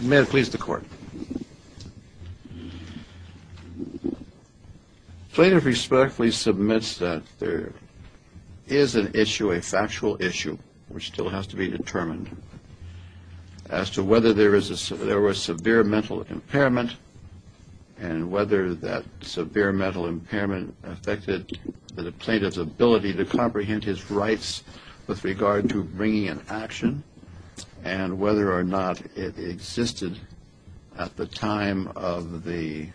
May it please the court. Plaintiff respectfully submits that there is an issue, a factual issue, which still has to be determined, as to whether there was severe mental impairment, and whether that severe mental impairment affected the plaintiff's ability to comprehend his rights with regard to bringing an action, and whether or not it existed at the time of the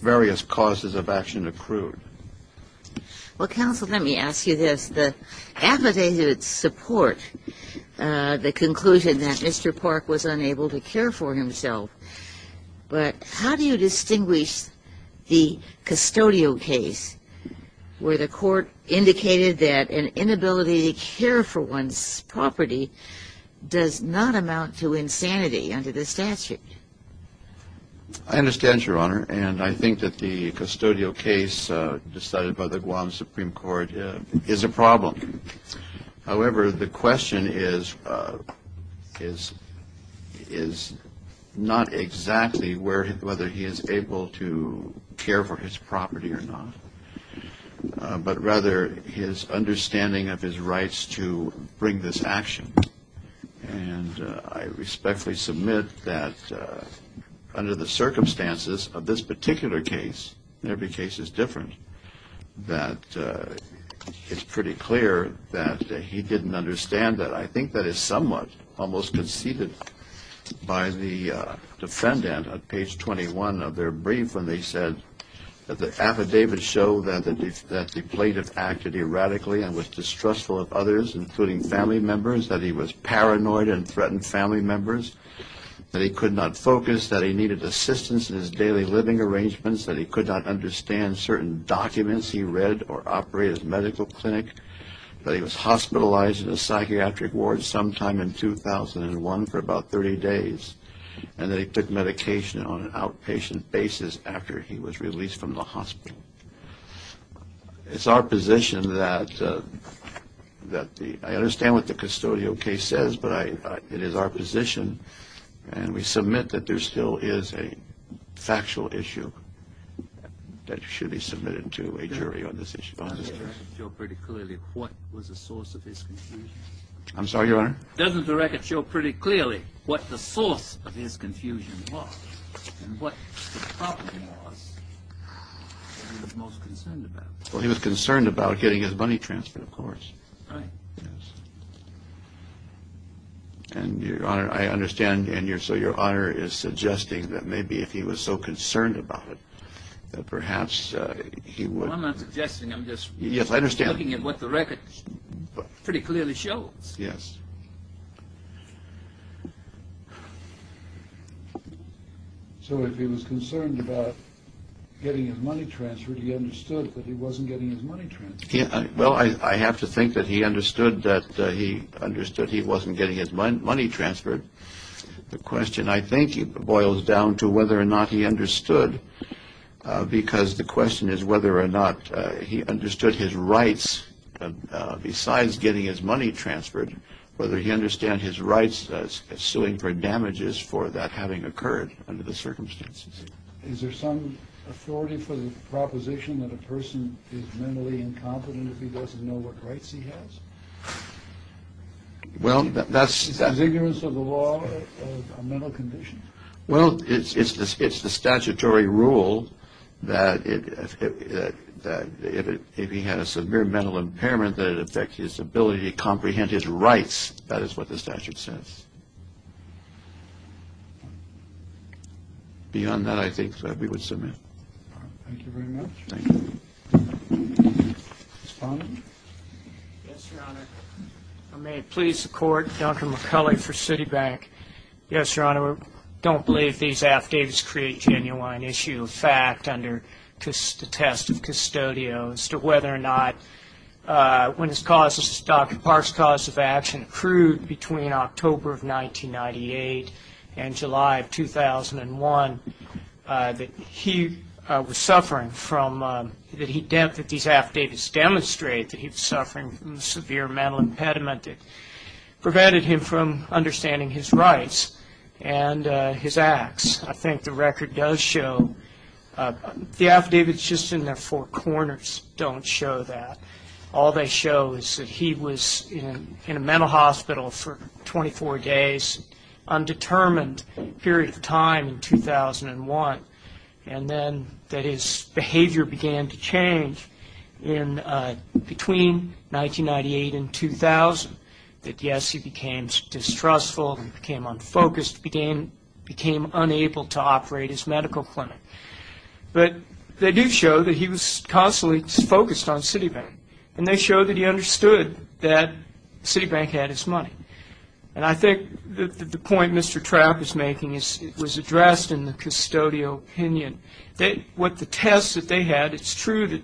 various causes of action accrued. Well, counsel, let me ask you this. The affidavits support the conclusion that Mr. Park was unable to care for himself, but how do you distinguish the custodial case, where the court indicated that an inability to care for one's property does not amount to insanity under the statute? I understand, Your Honor, and I think that the custodial case decided by the Guam Supreme Court is a problem. However, the question is not exactly whether he is able to care for his property or not, but rather his understanding of his rights to bring this action. And I respectfully submit that under the circumstances of this particular case, and every case is different, that it's pretty clear that he didn't understand that. I think that is somewhat almost conceded by the defendant on page 21 of their brief, when they said that the affidavits show that the plaintiff acted erratically and was distrustful of others, including family members, that he was paranoid and threatened family members, that he could not focus, that he needed assistance in his daily living arrangements, that he could not understand certain documents he read or operated medical clinic, that he was hospitalized in a psychiatric ward sometime in 2001 for about 30 days, and that he took medication on an outpatient basis after he was released from the hospital. It's our position that I understand what the custodial case says, but it is our position, and we submit that there still is a factual issue that should be submitted to a jury on this case. Doesn't the record show pretty clearly what was the source of his confusion? I'm sorry, Your Honor? Doesn't the record show pretty clearly what the source of his confusion was and what the problem was that he was most concerned about? Well, he was concerned about getting his money transferred, of course. Right. Yes. And, Your Honor, I understand, and so Your Honor is suggesting that maybe if he was so concerned about it, that perhaps he would— I'm not suggesting, I'm just— Yes, I understand. —looking at what the record pretty clearly shows. Yes. So if he was concerned about getting his money transferred, he understood that he wasn't getting his money transferred. Well, I have to think that he understood that he understood he wasn't getting his money transferred. The question, I think, boils down to whether or not he understood, because the question is whether or not he understood his rights besides getting his money transferred, whether he understands his rights suing for damages for that having occurred under the circumstances. Is there some authority for the proposition that a person is mentally incompetent if he doesn't know what rights he has? Well, that's— Is his ignorance of the law a mental condition? Well, it's the statutory rule that if he has a severe mental impairment, that it affects his ability to comprehend his rights. That is what the statute says. Beyond that, I think that we would submit. Thank you very much. Thank you. Respondent? Yes, Your Honor. May it please the Court, Dr. McCulley for Citibank. Yes, Your Honor, we don't believe these affidavits create genuine issue of fact under the test of custodial as to whether or not, when Dr. Park's cause of action accrued between October of 1998 and July of 2001, that he was suffering from—that these affidavits demonstrate that he was suffering from a severe mental impediment that prevented him from understanding his rights and his acts. I think the record does show—the affidavits just in their four corners don't show that. All they show is that he was in a mental hospital for 24 days, undetermined period of time in 2001, and then that his behavior began to change between 1998 and 2000, that, yes, he became distrustful, became unfocused, became unable to operate his medical clinic. But they do show that he was constantly focused on Citibank, and they show that he understood that Citibank had his money. And I think that the point Mr. Trapp is making was addressed in the custodial opinion. With the tests that they had, it's true that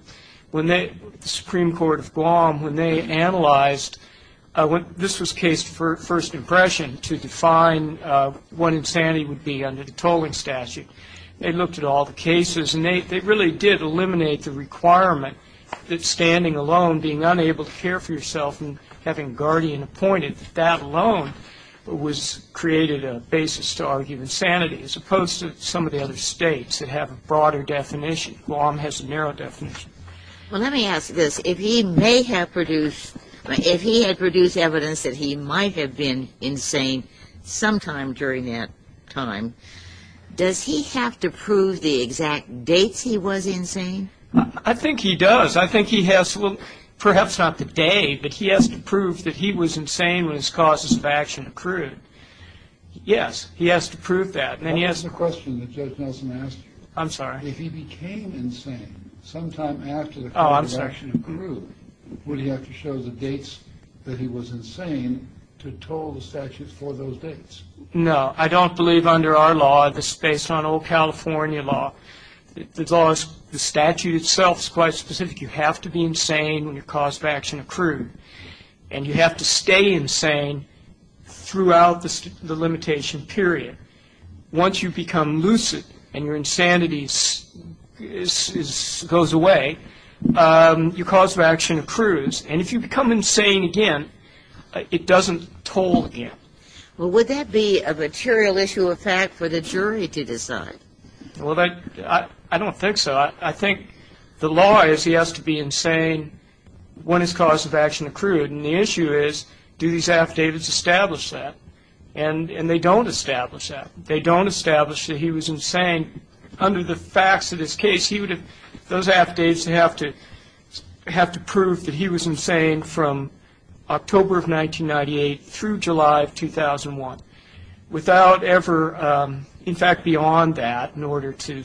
when the Supreme Court of Guam, when they analyzed—this was case for first impression to define what insanity would be under the tolling statute. They looked at all the cases, and they really did eliminate the requirement that standing alone, being unable to care for yourself, and having a guardian appointed, that that alone was created a basis to argue insanity, as opposed to some of the other states that have a broader definition. Guam has a narrow definition. Well, let me ask this. If he had produced evidence that he might have been insane sometime during that time, does he have to prove the exact dates he was insane? I think he does. I think he has—perhaps not the day, but he has to prove that he was insane when his causes of action accrued. Yes, he has to prove that. That's the question that Judge Nelson asked you. I'm sorry. If he became insane sometime after the causes of action accrued, would he have to show the dates that he was insane to toll the statute for those dates? No. I don't believe under our law, this is based on old California law, the statute itself is quite specific. You have to be insane when your cause of action accrued, and you have to stay insane throughout the limitation period. Once you become lucid and your insanity goes away, your cause of action accrues. And if you become insane again, it doesn't toll again. Well, would that be a material issue of fact for the jury to decide? Well, I don't think so. I think the law is he has to be insane when his cause of action accrued, and the issue is do these affidavits establish that? And they don't establish that. They don't establish that he was insane under the facts of this case. Those affidavits have to prove that he was insane from October of 1998 through July of 2001, without ever, in fact, beyond that, in order to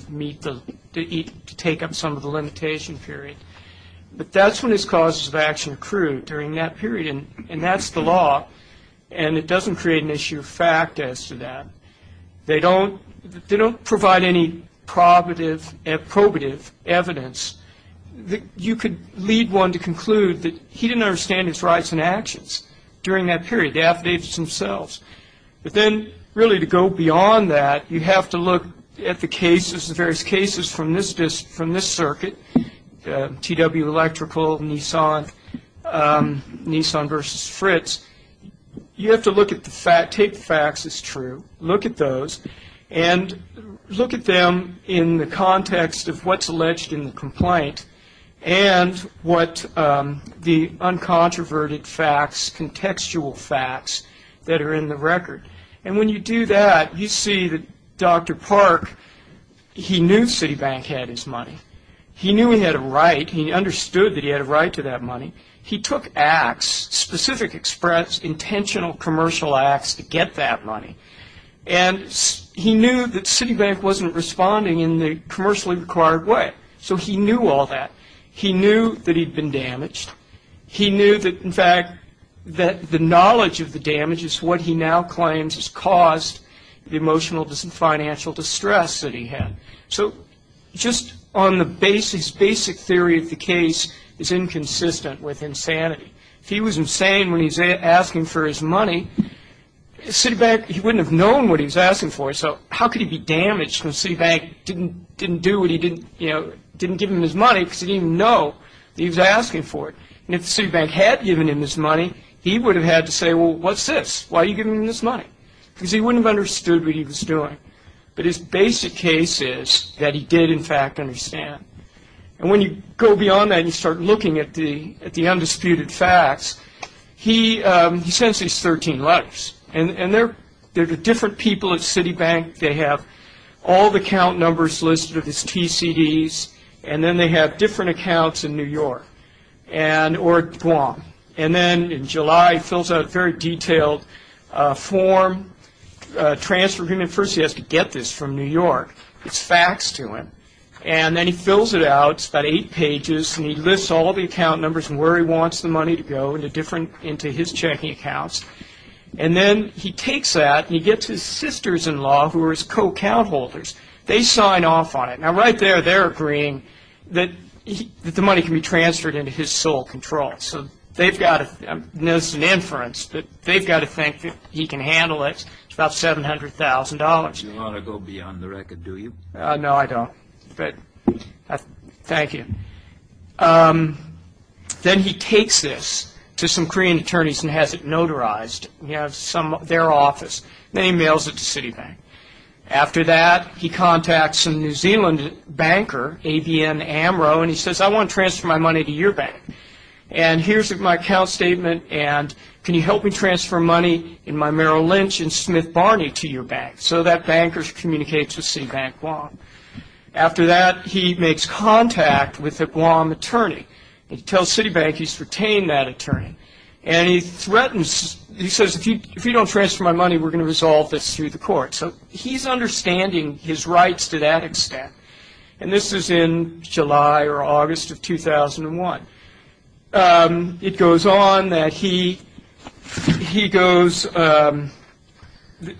take up some of the limitation period. But that's when his causes of action accrued, during that period, and that's the law, and it doesn't create an issue of fact as to that. They don't provide any probative evidence. You could lead one to conclude that he didn't understand his rights and actions during that period, the affidavits themselves. But then, really, to go beyond that, you have to look at the cases, the various cases from this circuit, TW Electrical, Nissan versus Fritz. You have to look at the facts. Take the facts as true. Look at those and look at them in the context of what's alleged in the complaint and what the uncontroverted facts, contextual facts that are in the record. And when you do that, you see that Dr. Park, he knew Citibank had his money. He knew he had a right. He understood that he had a right to that money. He took acts, specific express, intentional commercial acts to get that money, and he knew that Citibank wasn't responding in the commercially required way. So he knew all that. He knew that he'd been damaged. He knew that, in fact, that the knowledge of the damages, what he now claims has caused the emotional and financial distress that he had. So just on the basis, basic theory of the case is inconsistent with insanity. If he was insane when he was asking for his money, Citibank, he wouldn't have known what he was asking for, so how could he be damaged when Citibank didn't do what he didn't, you know, didn't give him his money because he didn't even know that he was asking for it? And if Citibank had given him his money, he would have had to say, well, what's this, why are you giving him this money? Because he wouldn't have understood what he was doing. But his basic case is that he did, in fact, understand. And when you go beyond that and you start looking at the undisputed facts, he sends these 13 letters, and they're to different people at Citibank. They have all the account numbers listed with his TCDs, and then they have different accounts in New York or Guam. And then in July, he fills out a very detailed form, a transfer agreement. First, he has to get this from New York. It's faxed to him. And then he fills it out. It's about eight pages, and he lists all the account numbers and where he wants the money to go into his checking accounts. And then he takes that and he gets his sisters-in-law, who are his co-account holders. They sign off on it. Now, right there, they're agreeing that the money can be transferred into his sole control. There's an inference that they've got to think that he can handle it. It's about $700,000. You don't want to go beyond the record, do you? No, I don't. But thank you. Then he takes this to some Korean attorneys and has it notarized in their office. Then he mails it to Citibank. After that, he contacts a New Zealand banker, ABN Amro, and he says, I want to transfer my money to your bank. And here's my account statement, and can you help me transfer money in my Merrill Lynch and Smith Barney to your bank? So that banker communicates with Citibank Guam. After that, he makes contact with a Guam attorney. He tells Citibank he's retained that attorney. And he threatens, he says, if you don't transfer my money, we're going to resolve this through the court. So he's understanding his rights to that extent. And this is in July or August of 2001. It goes on that he goes,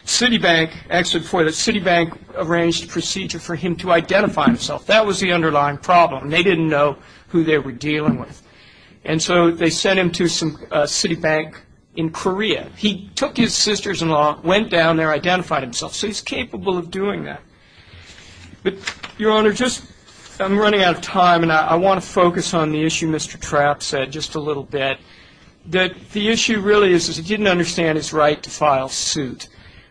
Citibank, actually before that, Citibank arranged a procedure for him to identify himself. That was the underlying problem. They didn't know who they were dealing with. And so they sent him to some Citibank in Korea. He took his sisters-in-law, went down there, identified himself. So he's capable of doing that. But, Your Honor, I'm running out of time, and I want to focus on the issue Mr. Trapp said just a little bit. The issue really is he didn't understand his right to file suit.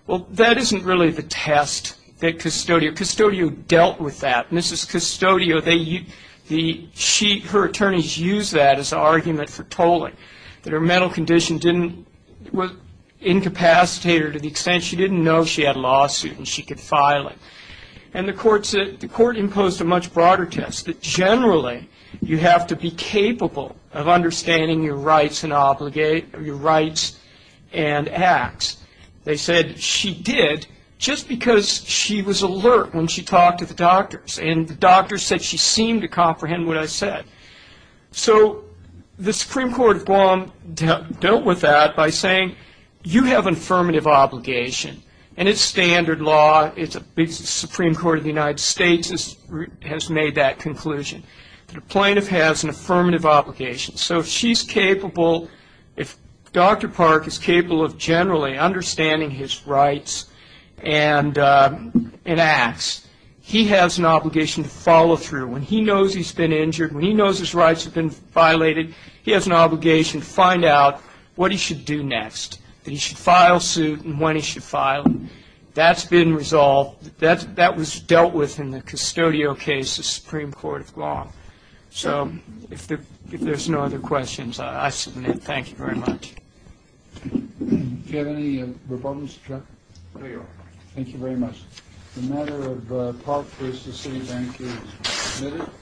Well, that isn't really the test that Custodio dealt with that. Mrs. Custodio, her attorneys used that as an argument for tolling, that her mental condition didn't incapacitate her to the extent she didn't know she had a lawsuit and she could file it. And the court imposed a much broader test, that generally you have to be capable of understanding your rights and acts. They said she did just because she was alert when she talked to the doctors, and the doctors said she seemed to comprehend what I said. So the Supreme Court of Guam dealt with that by saying, you have an affirmative obligation. And it's standard law. The Supreme Court of the United States has made that conclusion, that a plaintiff has an affirmative obligation. So if she's capable, if Dr. Park is capable of generally understanding his rights and acts, he has an obligation to follow through. When he knows he's been injured, when he knows his rights have been violated, he has an obligation to find out what he should do next, that he should file suit and when he should file it. That's been resolved. That was dealt with in the Custodio case, the Supreme Court of Guam. So if there's no other questions, I submit. Thank you very much. Do you have any rebuttals, Chuck? There you are. Thank you very much. The matter of Park v. City Bank is submitted.